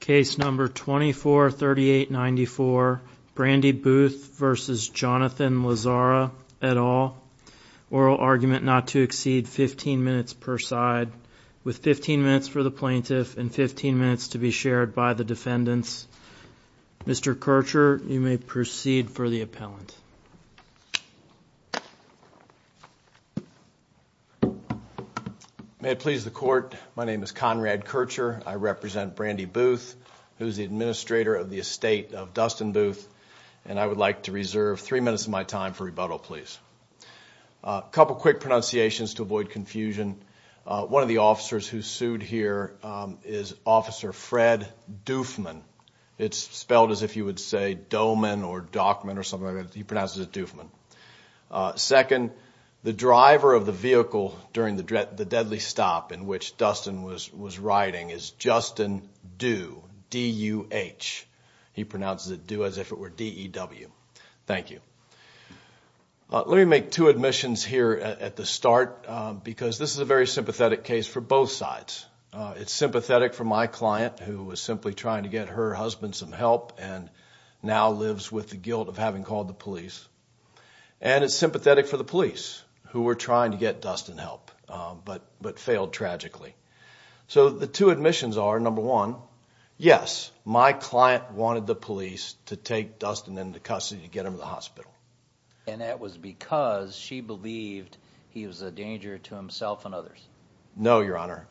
Case number 243894, Brandi Booth v. Jonathan Lazzara, et al. Oral argument not to exceed 15 minutes per side, with 15 minutes for the plaintiff and 15 minutes to be shared by the defendants. Mr. Kircher, you may proceed for the appellant. May it please the court. My name is Conrad Kircher. I represent Brandi Booth, who is the administrator of the estate of Dustin Booth. And I would like to reserve three minutes of my time for rebuttal, please. A couple quick pronunciations to avoid confusion. One of the officers who sued here is Officer Fred Doofman. It's spelled as if you would say Dohman or Dockman or something like that. He pronounces it Doofman. Second, the driver of the vehicle during the deadly stop in which Dustin was riding is Justin Dew, D-U-H. He pronounces it Dew as if it were D-E-W. Thank you. Let me make two admissions here at the start because this is a very sympathetic case for both sides. It's sympathetic for my client who was simply trying to get her husband some help and now lives with the guilt of having called the police. And it's sympathetic for the police who were trying to get Dustin help but failed tragically. So the two admissions are, number one, yes, my client wanted the police to take Dustin into custody to get him to the hospital. And that was because she believed he was a danger to himself and others. No, Your Honor.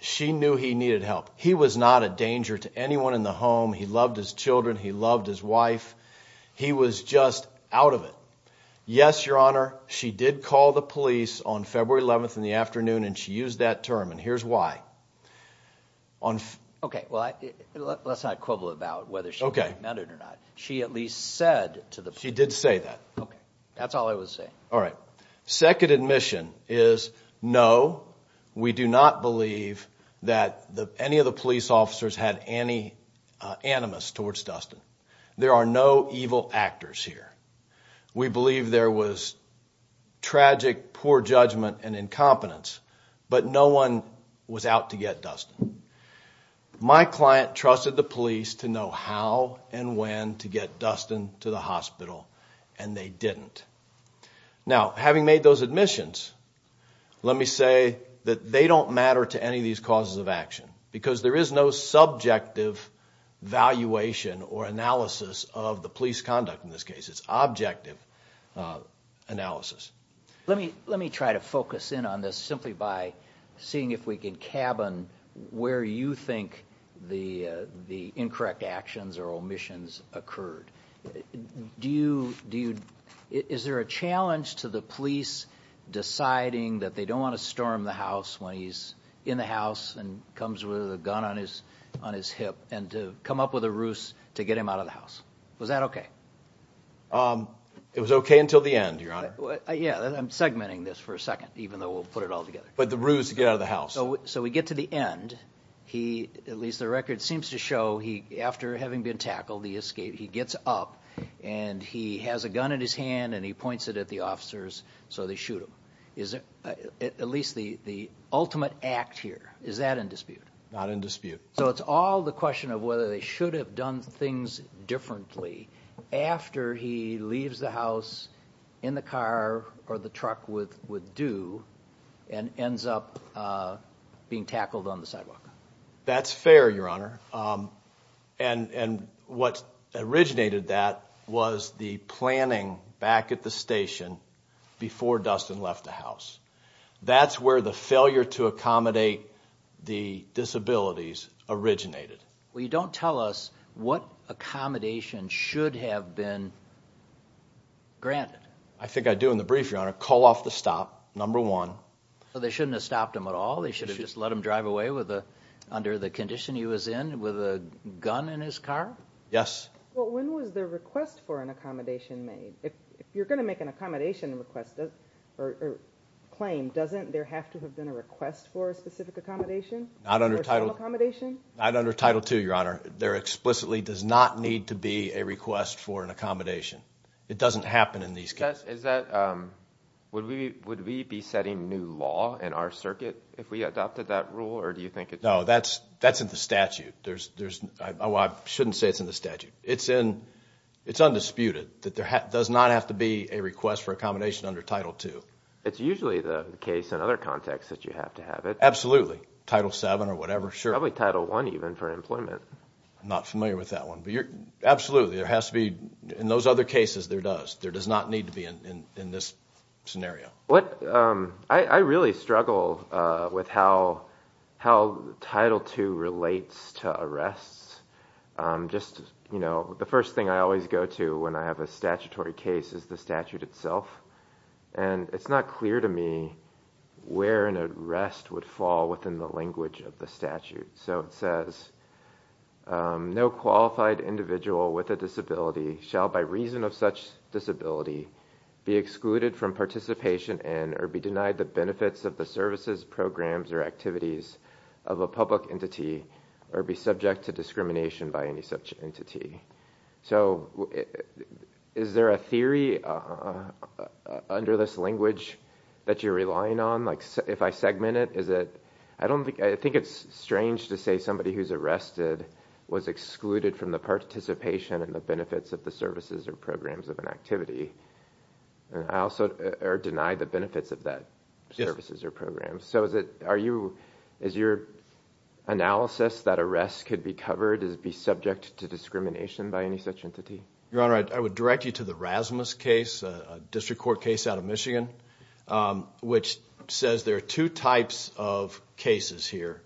She knew he needed help. He was not a danger to anyone in the home. He loved his children. He loved his wife. He was just out of it. Yes, Your Honor, she did call the police on February 11th in the afternoon, and she used that term. And here's why. Okay, well, let's not quibble about whether she admitted or not. She at least said to the police. She did say that. Okay, that's all I was saying. All right, second admission is no, we do not believe that any of the police officers had any animus towards Dustin. There are no evil actors here. We believe there was tragic poor judgment and incompetence, but no one was out to get Dustin. My client trusted the police to know how and when to get Dustin to the hospital, and they didn't. Now, having made those admissions, let me say that they don't matter to any of these causes of action because there is no subjective valuation or analysis of the police conduct in this case. It's objective analysis. Let me try to focus in on this simply by seeing if we can cabin where you think the incorrect actions or omissions occurred. Is there a challenge to the police deciding that they don't want to storm the house when he's in the house and comes with a gun on his hip and to come up with a ruse to get him out of the house? Was that okay? It was okay until the end, Your Honor. Yeah, I'm segmenting this for a second, even though we'll put it all together. But the ruse to get out of the house. So we get to the end. At least the record seems to show after having been tackled, he gets up, and he has a gun in his hand, and he points it at the officers, so they shoot him. Is it at least the ultimate act here? Is that in dispute? Not in dispute. So it's all the question of whether they should have done things differently after he leaves the house in the car or the truck with due and ends up being tackled on the sidewalk. That's fair, Your Honor. And what originated that was the planning back at the station before Dustin left the house. That's where the failure to accommodate the disabilities originated. Well, you don't tell us what accommodation should have been granted. I think I do in the brief, Your Honor. Call off the stop, number one. So they shouldn't have stopped him at all? They should have just let him drive away under the condition he was in with a gun in his car? Yes. Well, when was the request for an accommodation made? If you're going to make an accommodation claim, doesn't there have to have been a request for a specific accommodation? Not under Title II, Your Honor. There explicitly does not need to be a request for an accommodation. It doesn't happen in these cases. Would we be setting new law in our circuit if we adopted that rule? No, that's in the statute. I shouldn't say it's in the statute. It's undisputed that there does not have to be a request for accommodation under Title II. It's usually the case in other contexts that you have to have it. Absolutely. Title VII or whatever. Probably Title I even for employment. I'm not familiar with that one. Absolutely. In those other cases, there does. There does not need to be in this scenario. I really struggle with how Title II relates to arrests. The first thing I always go to when I have a statutory case is the statute itself. It's not clear to me where an arrest would fall within the language of the statute. It says, No qualified individual with a disability shall, by reason of such disability, be excluded from participation in or be denied the benefits of the services, programs, or activities of a public entity or be subject to discrimination by any such entity. Is there a theory under this language that you're relying on? If I segment it, is it? I think it's strange to say somebody who's arrested was excluded from the participation and the benefits of the services or programs of an activity. I also deny the benefits of that services or programs. Is your analysis that arrests could be covered as being subject to discrimination by any such entity? Your Honor, I would direct you to the Rasmus case, a district court case out of Michigan, which says there are two types of cases here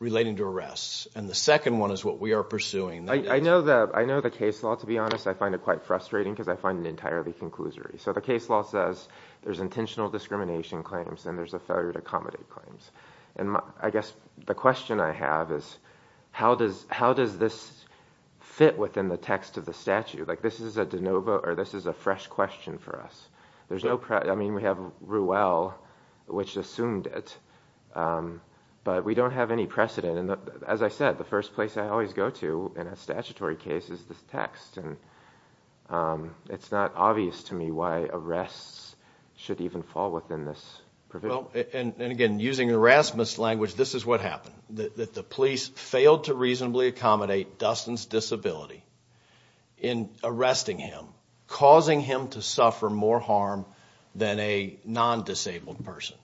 relating to arrests. The second one is what we are pursuing. I know the case law, to be honest. I find it quite frustrating because I find it entirely conclusory. The case law says there's intentional discrimination claims and there's a failure to accommodate claims. I guess the question I have is how does this fit within the text of the statute? This is a de novo or this is a fresh question for us. We have Ruelle, which assumed it, but we don't have any precedent. As I said, the first place I always go to in a statutory case is this text. It's not obvious to me why arrests should even fall within this provision. Again, using the Rasmus language, this is what happened. The police failed to reasonably accommodate Dustin's disability in arresting him, causing him to suffer more harm than a non-disabled person.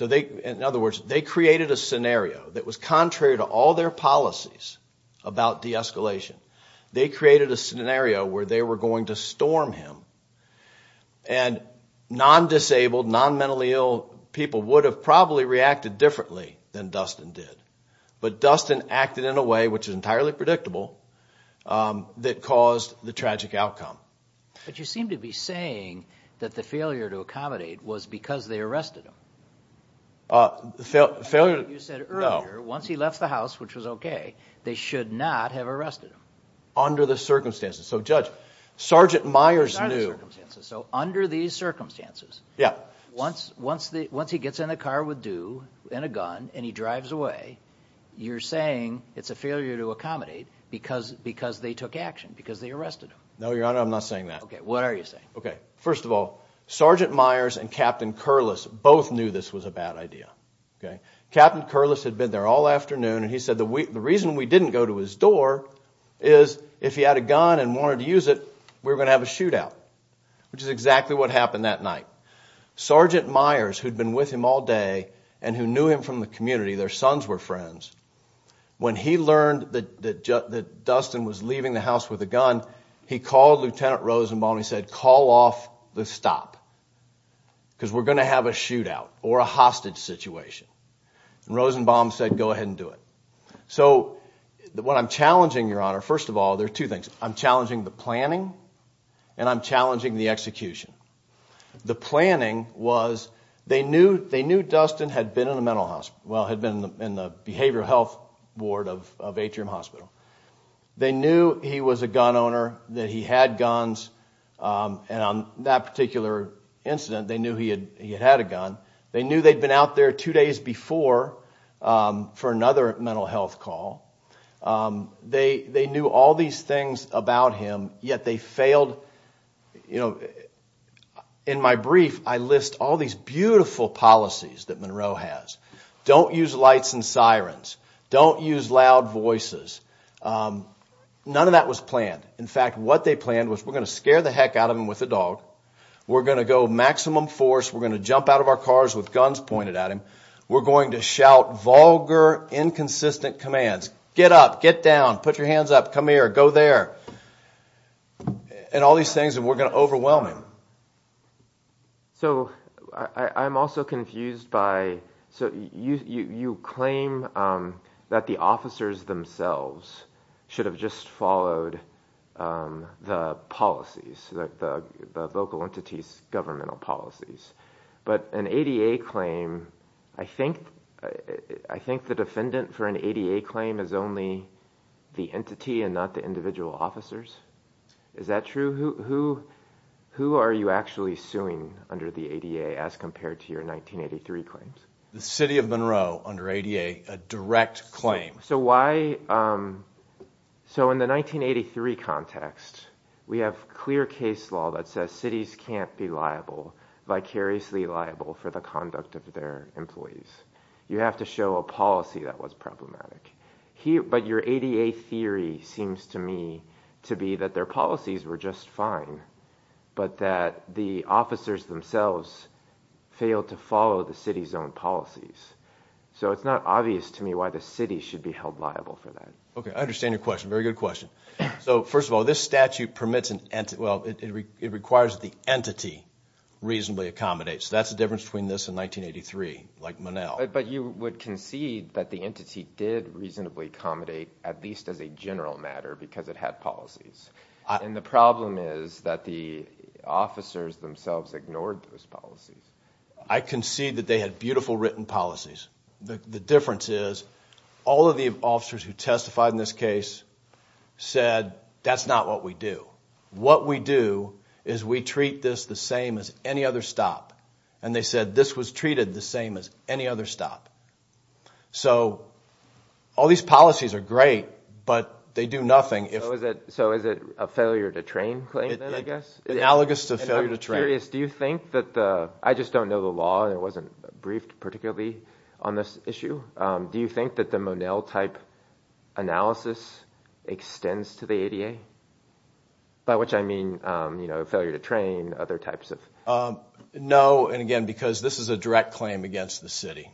In other words, they created a scenario that was contrary to all their policies about de-escalation. They created a scenario where they were going to storm him, and non-disabled, non-mentally ill people would have probably reacted differently than Dustin did. But Dustin acted in a way, which is entirely predictable, that caused the tragic outcome. But you seem to be saying that the failure to accommodate was because they arrested him. Failure? No. You said earlier, once he left the house, which was okay, they should not have arrested him. Under the circumstances. So, Judge, Sergeant Myers knew. Under these circumstances. Yeah. Once he gets in a car with due, in a gun, and he drives away, you're saying it's a failure to accommodate because they took action, because they arrested him. No, Your Honor, I'm not saying that. Okay. What are you saying? Okay. First of all, Sergeant Myers and Captain Curliss both knew this was a bad idea. Captain Curliss had been there all afternoon, and he said the reason we didn't go to his door is if he had a gun and wanted to use it, we were going to have a shootout, which is exactly what happened that night. Sergeant Myers, who'd been with him all day, and who knew him from the community, their sons were friends, when he learned that Dustin was leaving the house with a gun, he called Lieutenant Rosenbaum and he said, call off the stop, because we're going to have a shootout or a hostage situation. Rosenbaum said, go ahead and do it. So, what I'm challenging, Your Honor, first of all, there are two things. I'm challenging the planning, and I'm challenging the execution. The planning was, they knew Dustin had been in a mental hospital, well, had been in the behavioral health ward of Atrium Hospital. They knew he was a gun owner, that he had guns, and on that particular incident, they knew he had a gun. They knew they'd been out there two days before for another mental health call. They knew all these things about him, yet they failed. In my brief, I list all these beautiful policies that Monroe has. Don't use lights and sirens. Don't use loud voices. None of that was planned. In fact, what they planned was, we're going to scare the heck out of him with a dog. We're going to go maximum force. We're going to jump out of our cars with guns pointed at him. We're going to shout vulgar, inconsistent commands. Get up, get down, put your hands up, come here, go there. And all these things, and we're going to overwhelm him. So, I'm also confused by, so you claim that the officers themselves should have just followed the policies, the local entity's governmental policies. But an ADA claim, I think the defendant for an ADA claim is only the entity and not the individual officers. Is that true? Who are you actually suing under the ADA as compared to your 1983 claims? The city of Monroe under ADA, a direct claim. So why, so in the 1983 context, we have clear case law that says cities can't be liable vicariously liable for the conduct of their employees. You have to show a policy that was problematic. But your ADA theory seems to me to be that their policies were just fine, but that the officers themselves failed to follow the city's own policies. So it's not obvious to me why the city should be held liable for that. Okay, I understand your question. Very good question. So, first of all, this statute permits an entity, well, it requires the entity reasonably accommodate. So that's the difference between this and 1983, like Monell. But you would concede that the entity did reasonably accommodate, at least as a general matter, because it had policies. And the problem is that the officers themselves ignored those policies. I concede that they had beautiful written policies. The difference is all of the officers who testified in this case said that's not what we do. What we do is we treat this the same as any other stop. And they said this was treated the same as any other stop. So all these policies are great, but they do nothing. So is it a failure to train claim then, I guess? Analogous to failure to train. I'm curious, do you think that the – I just don't know the law. It wasn't briefed particularly on this issue. Do you think that the Monell type analysis extends to the ADA? By which I mean, you know, failure to train, other types of – No, and again, because this is a direct claim against the city.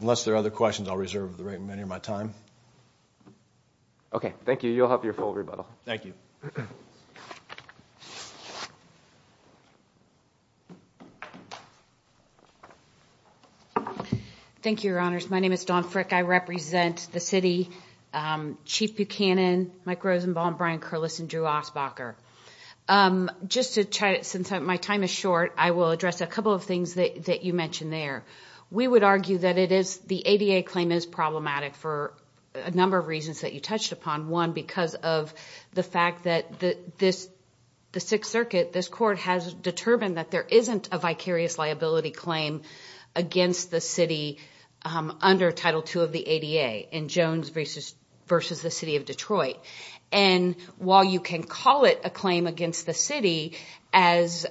Unless there are other questions, I'll reserve the remainder of my time. Okay, thank you. You'll have your full rebuttal. Thank you. Thank you, Your Honors. My name is Dawn Frick. I represent the city, Chief Buchanan, Mike Rosenbaum, Brian Curliss, and Drew Osbacher. Just to – since my time is short, I will address a couple of things that you mentioned there. We would argue that it is – the ADA claim is problematic for a number of reasons that you touched upon. One, because of the fact that this – the Sixth Circuit, this court, has determined that there isn't a vicarious liability claim against the city under Title II of the ADA in Jones v. the city of Detroit. And while you can call it a claim against the city, as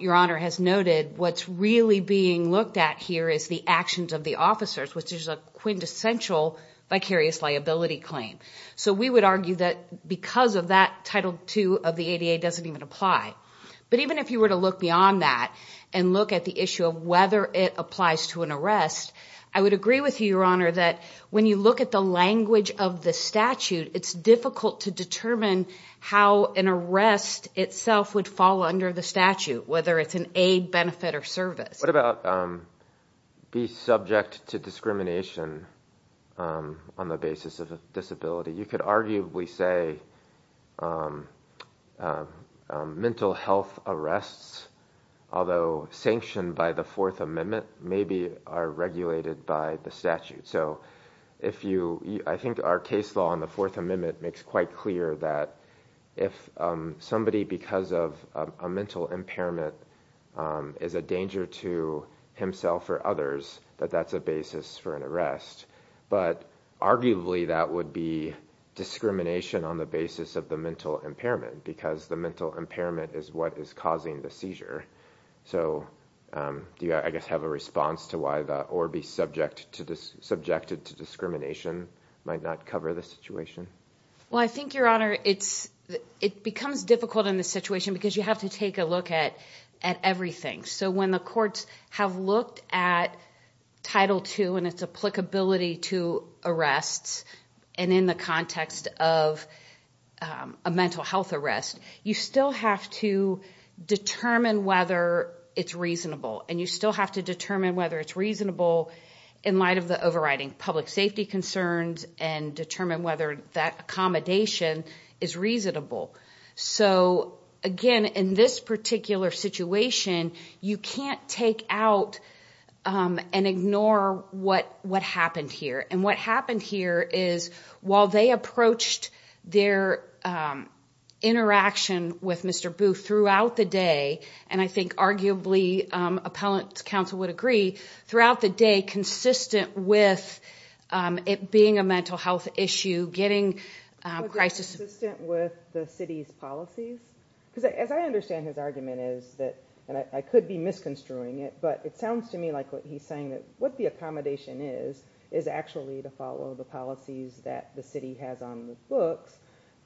Your Honor has noted, what's really being looked at here is the actions of the officers, which is a quintessential vicarious liability claim. So we would argue that because of that, Title II of the ADA doesn't even apply. But even if you were to look beyond that and look at the issue of whether it applies to an arrest, I would agree with you, Your Honor, that when you look at the language of the statute, it's difficult to determine how an arrest itself would fall under the statute, whether it's an aid, benefit, or service. What about be subject to discrimination on the basis of a disability? You could arguably say mental health arrests, although sanctioned by the Fourth Amendment, maybe are regulated by the statute. So if you – I think our case law in the Fourth Amendment makes quite clear that if somebody, because of a mental impairment, is a danger to himself or others, that that's a basis for an arrest. But arguably that would be discrimination on the basis of the mental impairment because the mental impairment is what is causing the seizure. So do you, I guess, have a response to why the or be subjected to discrimination might not cover the situation? Well, I think, Your Honor, it becomes difficult in this situation because you have to take a look at everything. So when the courts have looked at Title II and its applicability to arrests and in the context of a mental health arrest, you still have to determine whether it's reasonable. And you still have to determine whether it's reasonable in light of the overriding public safety concerns and determine whether that accommodation is reasonable. So, again, in this particular situation, you can't take out and ignore what happened here. And what happened here is while they approached their interaction with Mr. Booth throughout the day, and I think arguably appellant counsel would agree, throughout the day, consistent with it being a mental health issue, getting crisis- Consistent with the city's policies? Because as I understand his argument is that, and I could be misconstruing it, but it sounds to me like he's saying that what the accommodation is is actually to follow the policies that the city has on the books.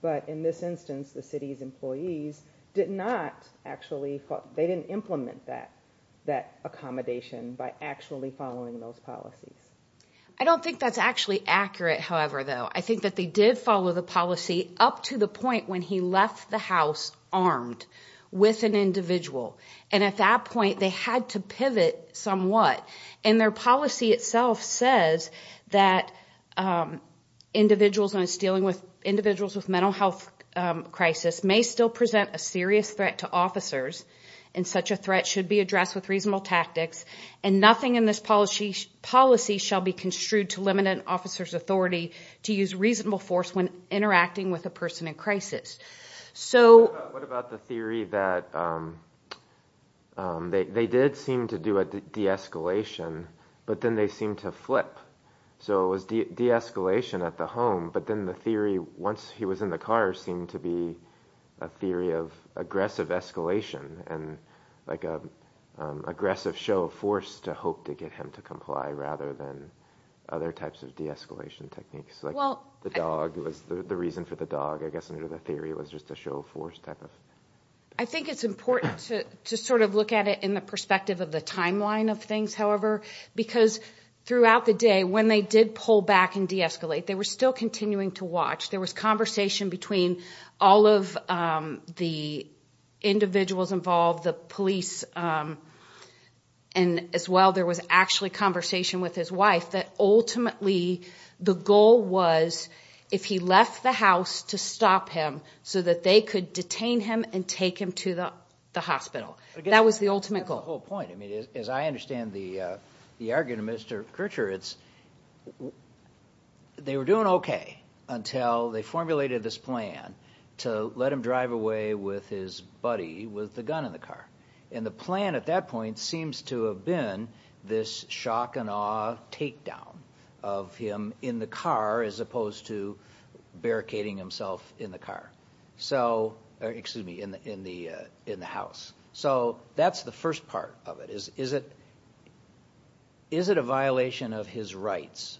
But in this instance, the city's employees did not actually, they didn't implement that accommodation by actually following those policies. I don't think that's actually accurate, however, though. I think that they did follow the policy up to the point when he left the house armed with an individual. And at that point, they had to pivot somewhat. And their policy itself says that individuals with mental health crisis may still present a serious threat to officers, and such a threat should be addressed with reasonable tactics, and nothing in this policy shall be construed to limit an officer's authority to use reasonable force when interacting with a person in crisis. So- What about the theory that they did seem to do a de-escalation, but then they seemed to flip? So it was de-escalation at the home, but then the theory once he was in the car seemed to be a theory of aggressive escalation, and like an aggressive show of force to hope to get him to comply rather than other types of de-escalation techniques. Like the dog was the reason for the dog, I guess, under the theory it was just a show of force type of- I think it's important to sort of look at it in the perspective of the timeline of things, however, because throughout the day when they did pull back and de-escalate, they were still continuing to watch. There was conversation between all of the individuals involved, the police, and as well there was actually conversation with his wife that ultimately the goal was if he left the house to stop him so that they could detain him and take him to the hospital. That was the ultimate goal. That's the whole point. I mean, as I understand the argument of Mr. Kircher, it's they were doing okay until they formulated this plan to let him drive away with his buddy with the gun in the car. And the plan at that point seems to have been this shock and awe takedown of him in the car as opposed to barricading himself in the house. So that's the first part of it. Is it a violation of his rights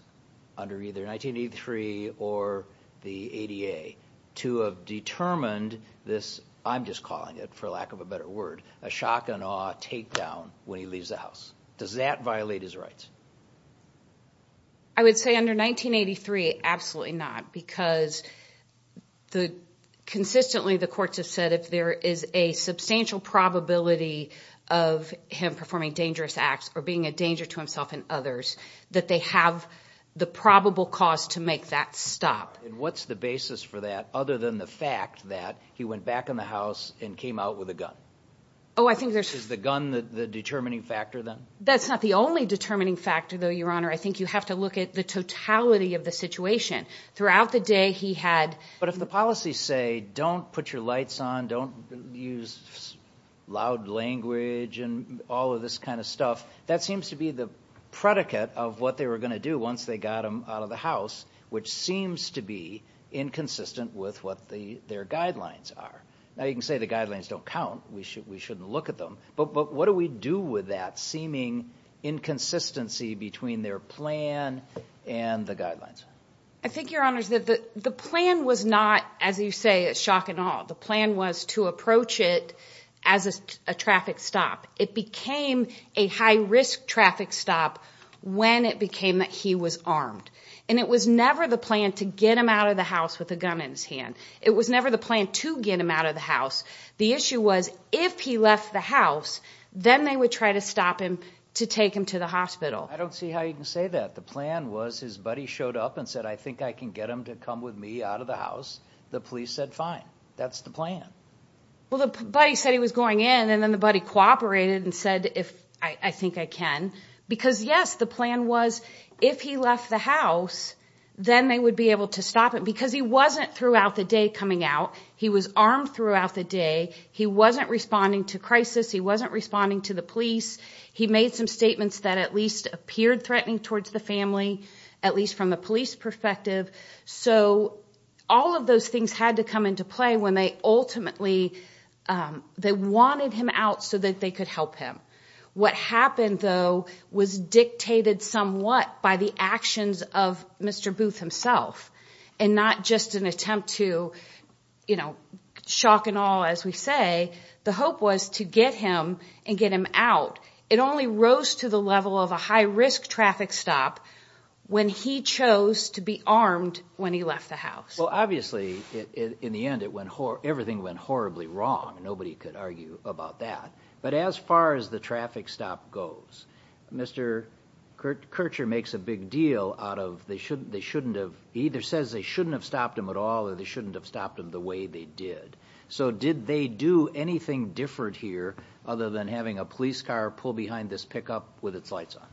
under either 1983 or the ADA to have determined this- I'm just calling it, for lack of a better word- a shock and awe takedown when he leaves the house? Does that violate his rights? I would say under 1983, absolutely not, because consistently the courts have said if there is a substantial probability of him performing dangerous acts or being a danger to himself and others, that they have the probable cause to make that stop. And what's the basis for that other than the fact that he went back in the house and came out with a gun? Oh, I think there's- Is the gun the determining factor then? That's not the only determining factor, though, Your Honor. I think you have to look at the totality of the situation. Throughout the day he had- But if the policies say don't put your lights on, don't use loud language and all of this kind of stuff, that seems to be the predicate of what they were going to do once they got him out of the house, which seems to be inconsistent with what their guidelines are. Now you can say the guidelines don't count. We shouldn't look at them. But what do we do with that seeming inconsistency between their plan and the guidelines? I think, Your Honor, the plan was not, as you say, a shock and awe. The plan was to approach it as a traffic stop. It became a high-risk traffic stop when it became that he was armed. And it was never the plan to get him out of the house with a gun in his hand. It was never the plan to get him out of the house. The issue was if he left the house, then they would try to stop him to take him to the hospital. I don't see how you can say that. The plan was his buddy showed up and said, I think I can get him to come with me out of the house. The police said, fine, that's the plan. Well, the buddy said he was going in, and then the buddy cooperated and said, I think I can. Because, yes, the plan was if he left the house, then they would be able to stop him. Because he wasn't throughout the day coming out. He was armed throughout the day. He wasn't responding to crisis. He wasn't responding to the police. He made some statements that at least appeared threatening towards the family, at least from the police perspective. So all of those things had to come into play when they ultimately wanted him out so that they could help him. What happened, though, was dictated somewhat by the actions of Mr. Booth himself, and not just an attempt to, you know, shock and awe, as we say. The hope was to get him and get him out. It only rose to the level of a high-risk traffic stop when he chose to be armed when he left the house. Well, obviously, in the end, everything went horribly wrong. Nobody could argue about that. But as far as the traffic stop goes, Mr. Kircher makes a big deal out of either says they shouldn't have stopped him at all or they shouldn't have stopped him the way they did. So did they do anything different here other than having a police car pull behind this pickup with its lights on?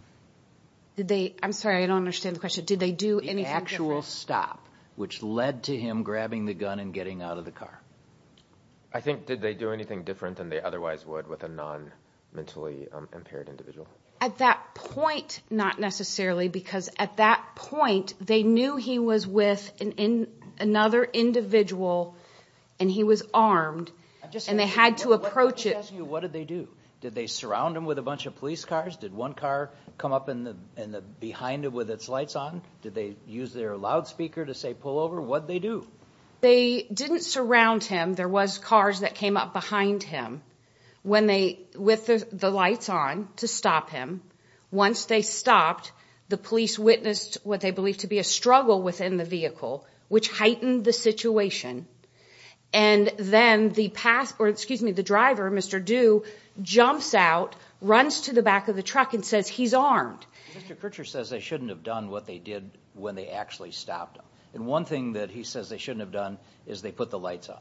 I'm sorry, I don't understand the question. Did they do anything different? The actual stop, which led to him grabbing the gun and getting out of the car. I think, did they do anything different than they otherwise would with a non-mentally impaired individual? At that point, not necessarily, because at that point, they knew he was with another individual and he was armed, and they had to approach it. Let me ask you, what did they do? Did they surround him with a bunch of police cars? Did one car come up behind him with its lights on? Did they use their loudspeaker to say pull over? What did they do? They didn't surround him. There was cars that came up behind him with the lights on to stop him. Once they stopped, the police witnessed what they believed to be a struggle within the vehicle, which heightened the situation. And then the driver, Mr. Du, jumps out, runs to the back of the truck and says he's armed. Mr. Kircher says they shouldn't have done what they did when they actually stopped him. And one thing that he says they shouldn't have done is they put the lights on.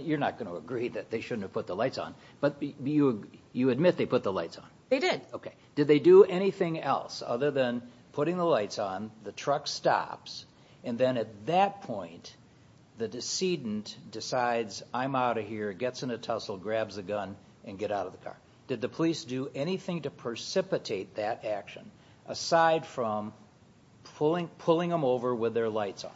You're not going to agree that they shouldn't have put the lights on, but you admit they put the lights on. They did. Did they do anything else other than putting the lights on, the truck stops, and then at that point, the decedent decides I'm out of here, gets in a tussle, grabs a gun, and get out of the car. Did the police do anything to precipitate that action aside from pulling him over with their lights on?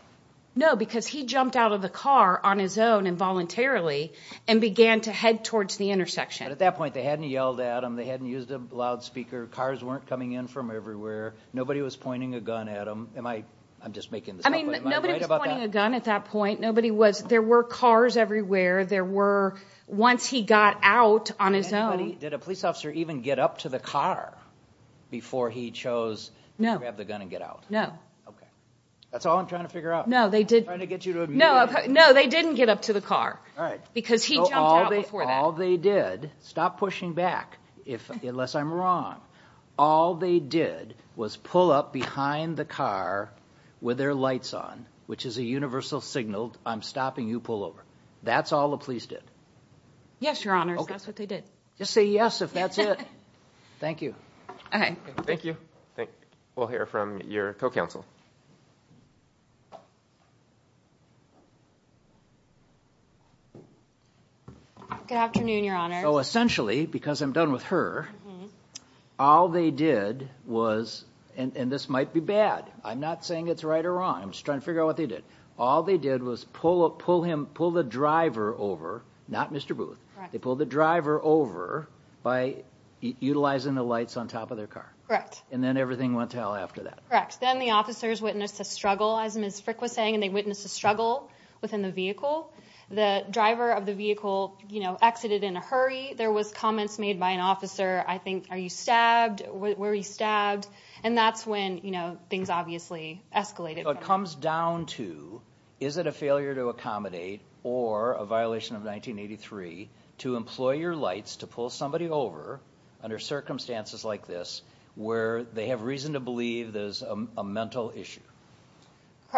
No, because he jumped out of the car on his own involuntarily and began to head towards the intersection. But at that point, they hadn't yelled at him. They hadn't used a loudspeaker. Cars weren't coming in from everywhere. Nobody was pointing a gun at him. I'm just making this up, but am I right about that? Nobody was pointing a gun at that point. There were cars everywhere. Once he got out on his own. Did a police officer even get up to the car before he chose to grab the gun and get out? No. That's all I'm trying to figure out. I'm trying to get you to admit it. No, they didn't get up to the car because he jumped out before that. All they did, stop pushing back unless I'm wrong, all they did was pull up behind the car with their lights on, which is a universal signal, I'm stopping you, pull over. That's all the police did. Yes, Your Honors, that's what they did. Just say yes if that's it. Thank you. Okay. Thank you. We'll hear from your co-counsel. Good afternoon, Your Honors. Essentially, because I'm done with her, all they did was, and this might be bad, I'm not saying it's right or wrong, I'm just trying to figure out what they did. All they did was pull the driver over, not Mr. Booth, they pulled the driver over by utilizing the lights on top of their car. Correct. And then everything went to hell after that. Correct. Then the officers witnessed a struggle, as Ms. Frick was saying, and they witnessed a struggle within the vehicle. The driver of the vehicle, you know, exited in a hurry. There was comments made by an officer, I think, are you stabbed, were you stabbed, and that's when, you know, things obviously escalated. It comes down to, is it a failure to accommodate or a violation of 1983 to employ your lights to pull somebody over under circumstances like this where they have reason to believe there's a mental issue?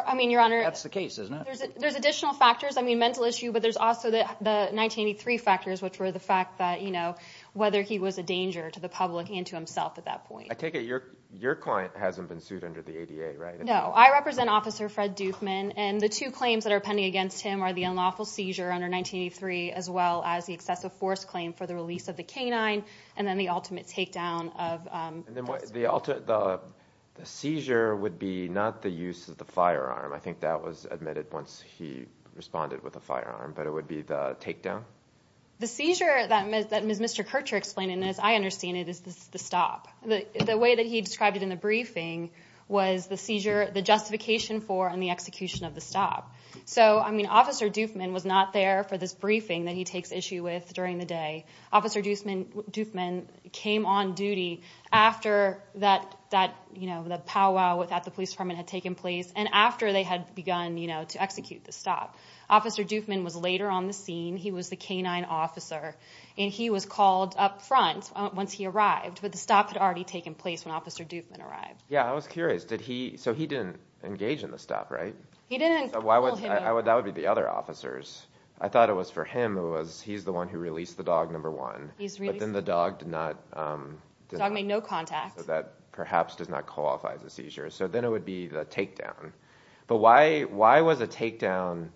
I mean, Your Honor. That's the case, isn't it? There's additional factors. I mean, mental issue, but there's also the 1983 factors, which were the fact that, you know, whether he was a danger to the public and to himself at that point. I take it your client hasn't been sued under the ADA, right? No. I represent Officer Fred Dufman, and the two claims that are pending against him are the unlawful seizure under 1983 as well as the excessive force claim for the release of the canine and then the ultimate takedown of the suspect. The seizure would be not the use of the firearm. I think that was admitted once he responded with a firearm, but it would be the takedown? The seizure that Mr. Kircher explained, and as I understand it, is the stop. The way that he described it in the briefing was the seizure, the justification for, and the execution of the stop. So, I mean, Officer Dufman was not there for this briefing that he takes issue with during the day. Officer Dufman came on duty after that powwow at the police department had taken place and after they had begun to execute the stop. Officer Dufman was later on the scene. He was the canine officer, and he was called up front once he arrived, but the stop had already taken place when Officer Dufman arrived. Yeah, I was curious. So he didn't engage in the stop, right? He didn't call him. That would be the other officers. I thought it was for him. He's the one who released the dog, number one. But then the dog did not. The dog made no contact. So that perhaps does not qualify as a seizure. So then it would be the takedown. But why was a takedown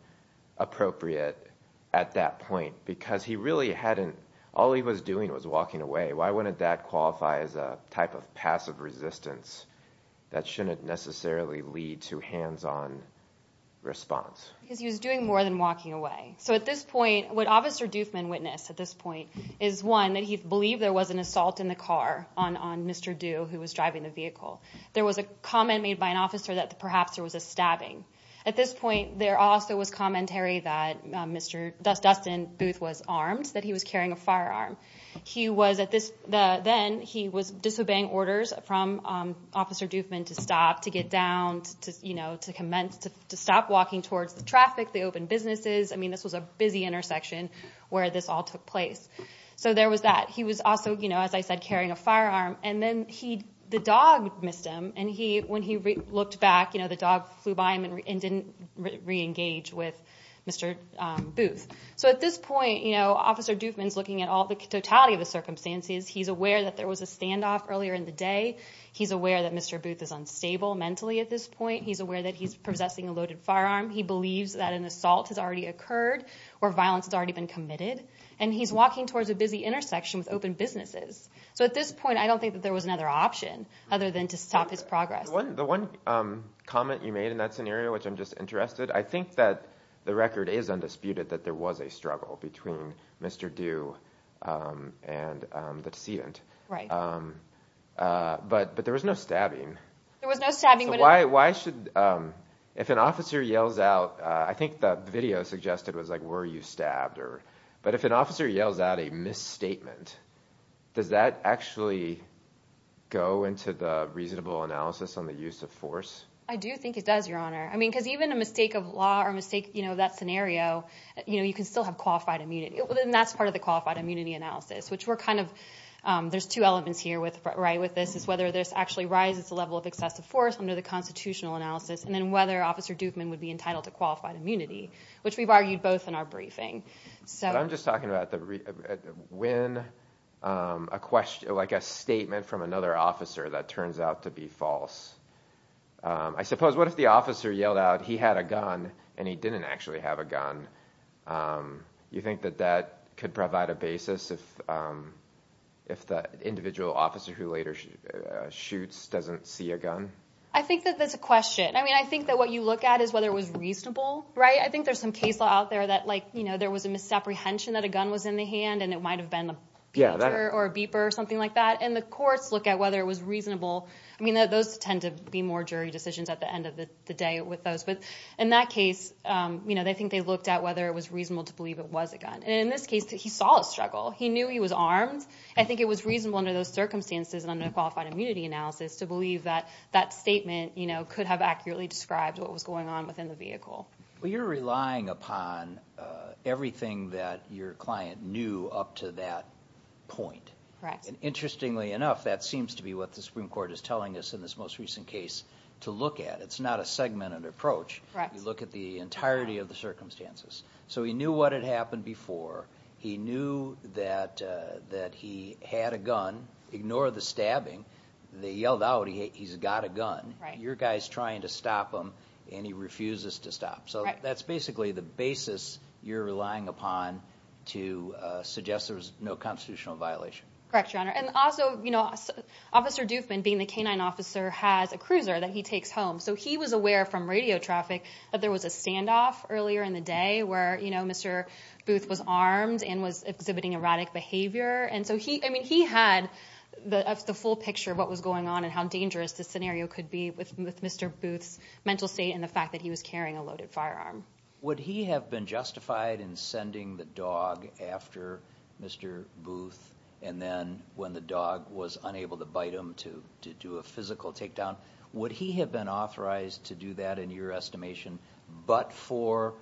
appropriate at that point? Because he really hadn't. All he was doing was walking away. Why wouldn't that qualify as a type of passive resistance that shouldn't necessarily lead to hands-on response? Because he was doing more than walking away. So at this point, what Officer Dufman witnessed at this point is, one, that he believed there was an assault in the car on Mr. Dew, who was driving the vehicle. There was a comment made by an officer that perhaps there was a stabbing. At this point, there also was commentary that Dustin Booth was armed, that he was carrying a firearm. Then he was disobeying orders from Officer Dufman to stop, to get down, to commence, to stop walking towards the traffic, the open businesses. This was a busy intersection where this all took place. So there was that. He was also, as I said, carrying a firearm. And then the dog missed him. And when he looked back, the dog flew by him and didn't re-engage with Mr. Booth. So at this point, Officer Dufman's looking at the totality of the circumstances. He's aware that there was a standoff earlier in the day. He's aware that Mr. Booth is unstable mentally at this point. He's aware that he's possessing a loaded firearm. He believes that an assault has already occurred or violence has already been committed. And he's walking towards a busy intersection with open businesses. So at this point, I don't think that there was another option other than to stop his progress. The one comment you made in that scenario, which I'm just interested, I think that the record is undisputed that there was a struggle between Mr. Due and the decedent. But there was no stabbing. There was no stabbing. So why should, if an officer yells out, I think the video suggested was like, were you stabbed? But if an officer yells out a misstatement, does that actually go into the reasonable analysis on the use of force? I do think it does, Your Honor. Because even a mistake of law or a mistake of that scenario, you can still have qualified immunity. And that's part of the qualified immunity analysis, which we're kind of, there's two elements here with this, is whether this actually rises the level of excessive force under the constitutional analysis, and then whether Officer Doofman would be entitled to qualified immunity, which we've argued both in our briefing. But I'm just talking about when a statement from another officer that turns out to be false. I suppose what if the officer yelled out he had a gun and he didn't actually have a gun? You think that that could provide a basis if the individual officer who later shoots doesn't see a gun? I think that that's a question. I mean, I think that what you look at is whether it was reasonable, right? I think there's some case law out there that like, you know, there was a misapprehension that a gun was in the hand and it might have been a peeper or a beeper or something like that. And the courts look at whether it was reasonable. I mean, those tend to be more jury decisions at the end of the day with those. But in that case, you know, they think they looked at whether it was reasonable to believe it was a gun. And in this case, he saw a struggle. He knew he was armed. I think it was reasonable under those circumstances and under qualified immunity analysis to believe that that statement, you know, could have accurately described what was going on within the vehicle. Well, you're relying upon everything that your client knew up to that point. Correct. And interestingly enough, that seems to be what the Supreme Court is telling us in this most recent case to look at. It's not a segmented approach. Correct. You look at the entirety of the circumstances. So he knew what had happened before. He knew that he had a gun. Ignore the stabbing. They yelled out, he's got a gun. Right. Your guy's trying to stop him and he refuses to stop. So that's basically the basis you're relying upon to suggest there was no constitutional violation. Correct, Your Honor. And also, you know, Officer Doofman, being the canine officer, has a cruiser that he takes home. So he was aware from radio traffic that there was a standoff earlier in the day where, you know, Mr. Booth was armed and was exhibiting erratic behavior. And so he had the full picture of what was going on and how dangerous the scenario could be with Mr. Booth's mental state and the fact that he was carrying a loaded firearm. Would he have been justified in sending the dog after Mr. Booth and then when the dog was unable to bite him to do a physical takedown? Would he have been authorized to do that, in your estimation, but for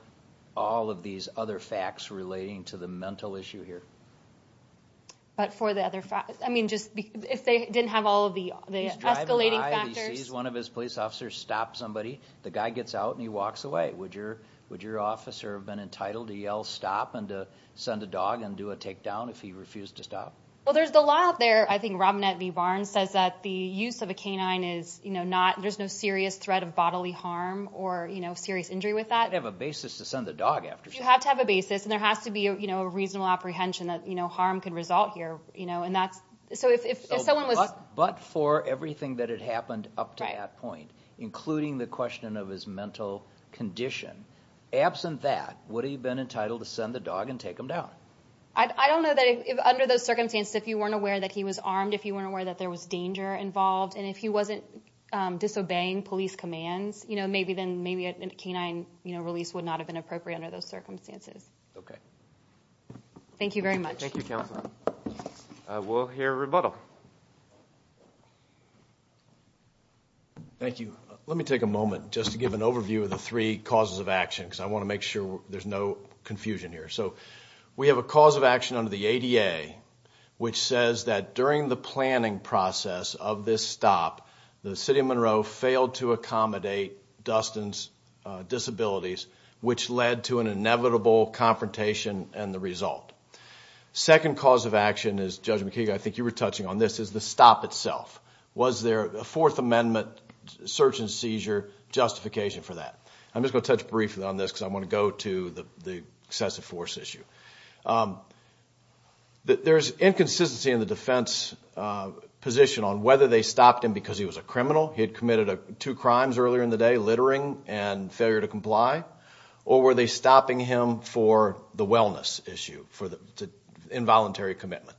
all of these other facts relating to the mental issue here? But for the other facts? I mean, if they didn't have all of the escalating factors? He's driving by, he sees one of his police officers stop somebody, the guy gets out and he walks away. Would your officer have been entitled to yell stop and to send a dog and do a takedown if he refused to stop? Well, there's the law out there. I think Robinette V. Barnes says that the use of a canine is not, there's no serious threat of bodily harm or serious injury with that. You have to have a basis to send the dog after someone. You have to have a basis and there has to be a reasonable apprehension that harm can result here. But for everything that had happened up to that point, including the question of his mental condition, absent that, would he have been entitled to send the dog and take him down? I don't know that under those circumstances, if you weren't aware that he was armed, if you weren't aware that there was danger involved, and if he wasn't disobeying police commands, maybe a canine release would not have been appropriate under those circumstances. Okay. Thank you very much. Thank you, Counselor. We'll hear a rebuttal. Thank you. Let me take a moment just to give an overview of the three causes of action because I want to make sure there's no confusion here. So we have a cause of action under the ADA, which says that during the planning process of this stop, the city of Monroe failed to accommodate Dustin's disabilities, which led to an inevitable confrontation and the result. The second cause of action is, Judge McKee, I think you were touching on this, is the stop itself. Was there a Fourth Amendment search and seizure justification for that? I'm just going to touch briefly on this because I want to go to the excessive force issue. There's inconsistency in the defense position on whether they stopped him because he was a criminal, he had committed two crimes earlier in the day, littering and failure to comply, or were they stopping him for the wellness issue, for the involuntary commitment.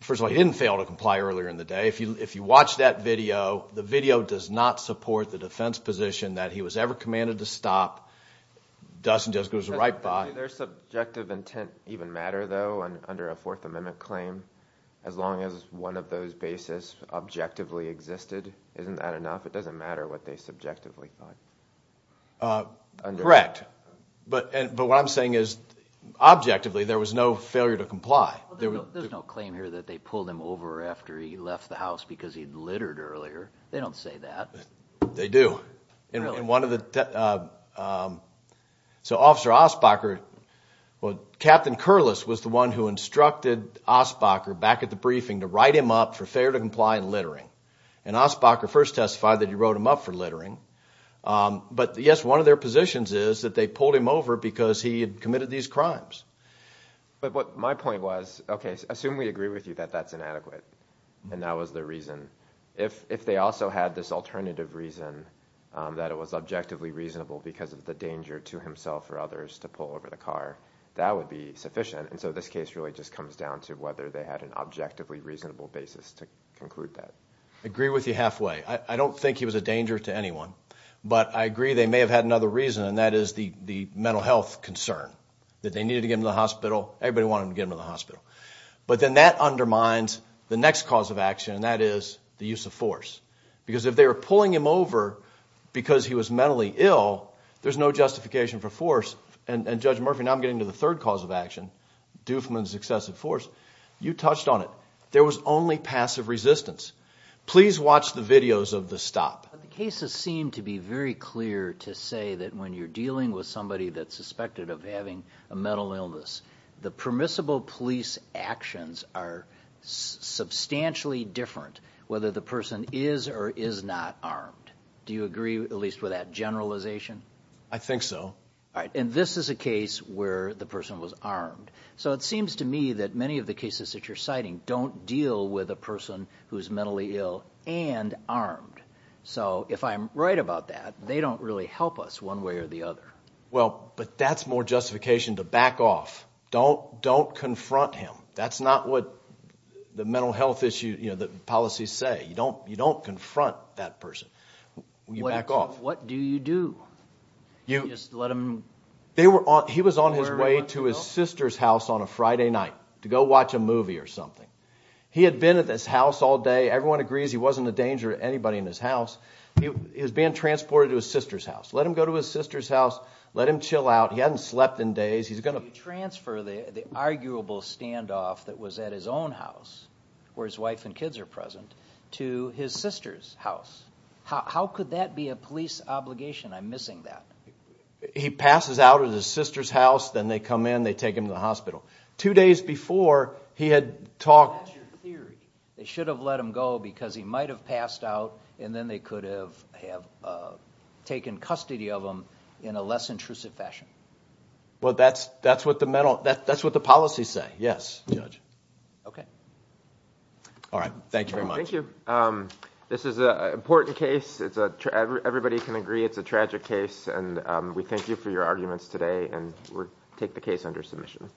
First of all, he didn't fail to comply earlier in the day. If you watch that video, the video does not support the defense position that he was ever commanded to stop. Dustin just goes right by. Did their subjective intent even matter though under a Fourth Amendment claim? As long as one of those bases objectively existed, isn't that enough? It doesn't matter what they subjectively thought. Correct. What I'm saying is, objectively, there was no failure to comply. There's no claim here that they pulled him over after he left the house because he had littered earlier. They don't say that. They do. Officer Asbacher, Captain Kurles was the one who instructed Asbacher back at the briefing to write him up for failure to comply and littering. Asbacher first testified that he wrote him up for littering. Yes, one of their positions is that they pulled him over because he had committed these crimes. My point was, okay, assume we agree with you that that's inadequate and that was the reason. If they also had this alternative reason that it was objectively reasonable because of the danger to himself or others to pull over the car, that would be sufficient. This case really just comes down to whether they had an objectively reasonable basis to conclude that. I agree with you halfway. I don't think he was a danger to anyone, but I agree they may have had another reason, and that is the mental health concern, that they needed to get him to the hospital. Everybody wanted to get him to the hospital. But then that undermines the next cause of action, and that is the use of force. Because if they were pulling him over because he was mentally ill, there's no justification for force. Judge Murphy, now I'm getting to the third cause of action, Doofman's excessive force. You touched on it. There was only passive resistance. Please watch the videos of the stop. The cases seem to be very clear to say that when you're dealing with somebody that's suspected of having a mental illness, the permissible police actions are substantially different, whether the person is or is not armed. Do you agree at least with that generalization? I think so. And this is a case where the person was armed. So it seems to me that many of the cases that you're citing don't deal with a person who's mentally ill and armed. So if I'm right about that, they don't really help us one way or the other. Well, but that's more justification to back off. Don't confront him. That's not what the mental health issues, the policies say. You don't confront that person. You back off. What do you do? You just let him? He was on his way to his sister's house on a Friday night to go watch a movie or something. He had been at his house all day. Everyone agrees he wasn't a danger to anybody in his house. He was being transported to his sister's house. Let him go to his sister's house. Let him chill out. He hadn't slept in days. He's going to transfer the arguable standoff that was at his own house, where his wife and kids are present, to his sister's house. How could that be a police obligation? I'm missing that. He passes out at his sister's house. Then they come in, they take him to the hospital. Two days before, he had talked. That's your theory. They should have let him go because he might have passed out, and then they could have taken custody of him in a less intrusive fashion. That's what the policies say, yes, Judge. Okay. All right, thank you very much. Thank you. This is an important case. Everybody can agree it's a tragic case. We thank you for your arguments today, and we'll take the case under submission.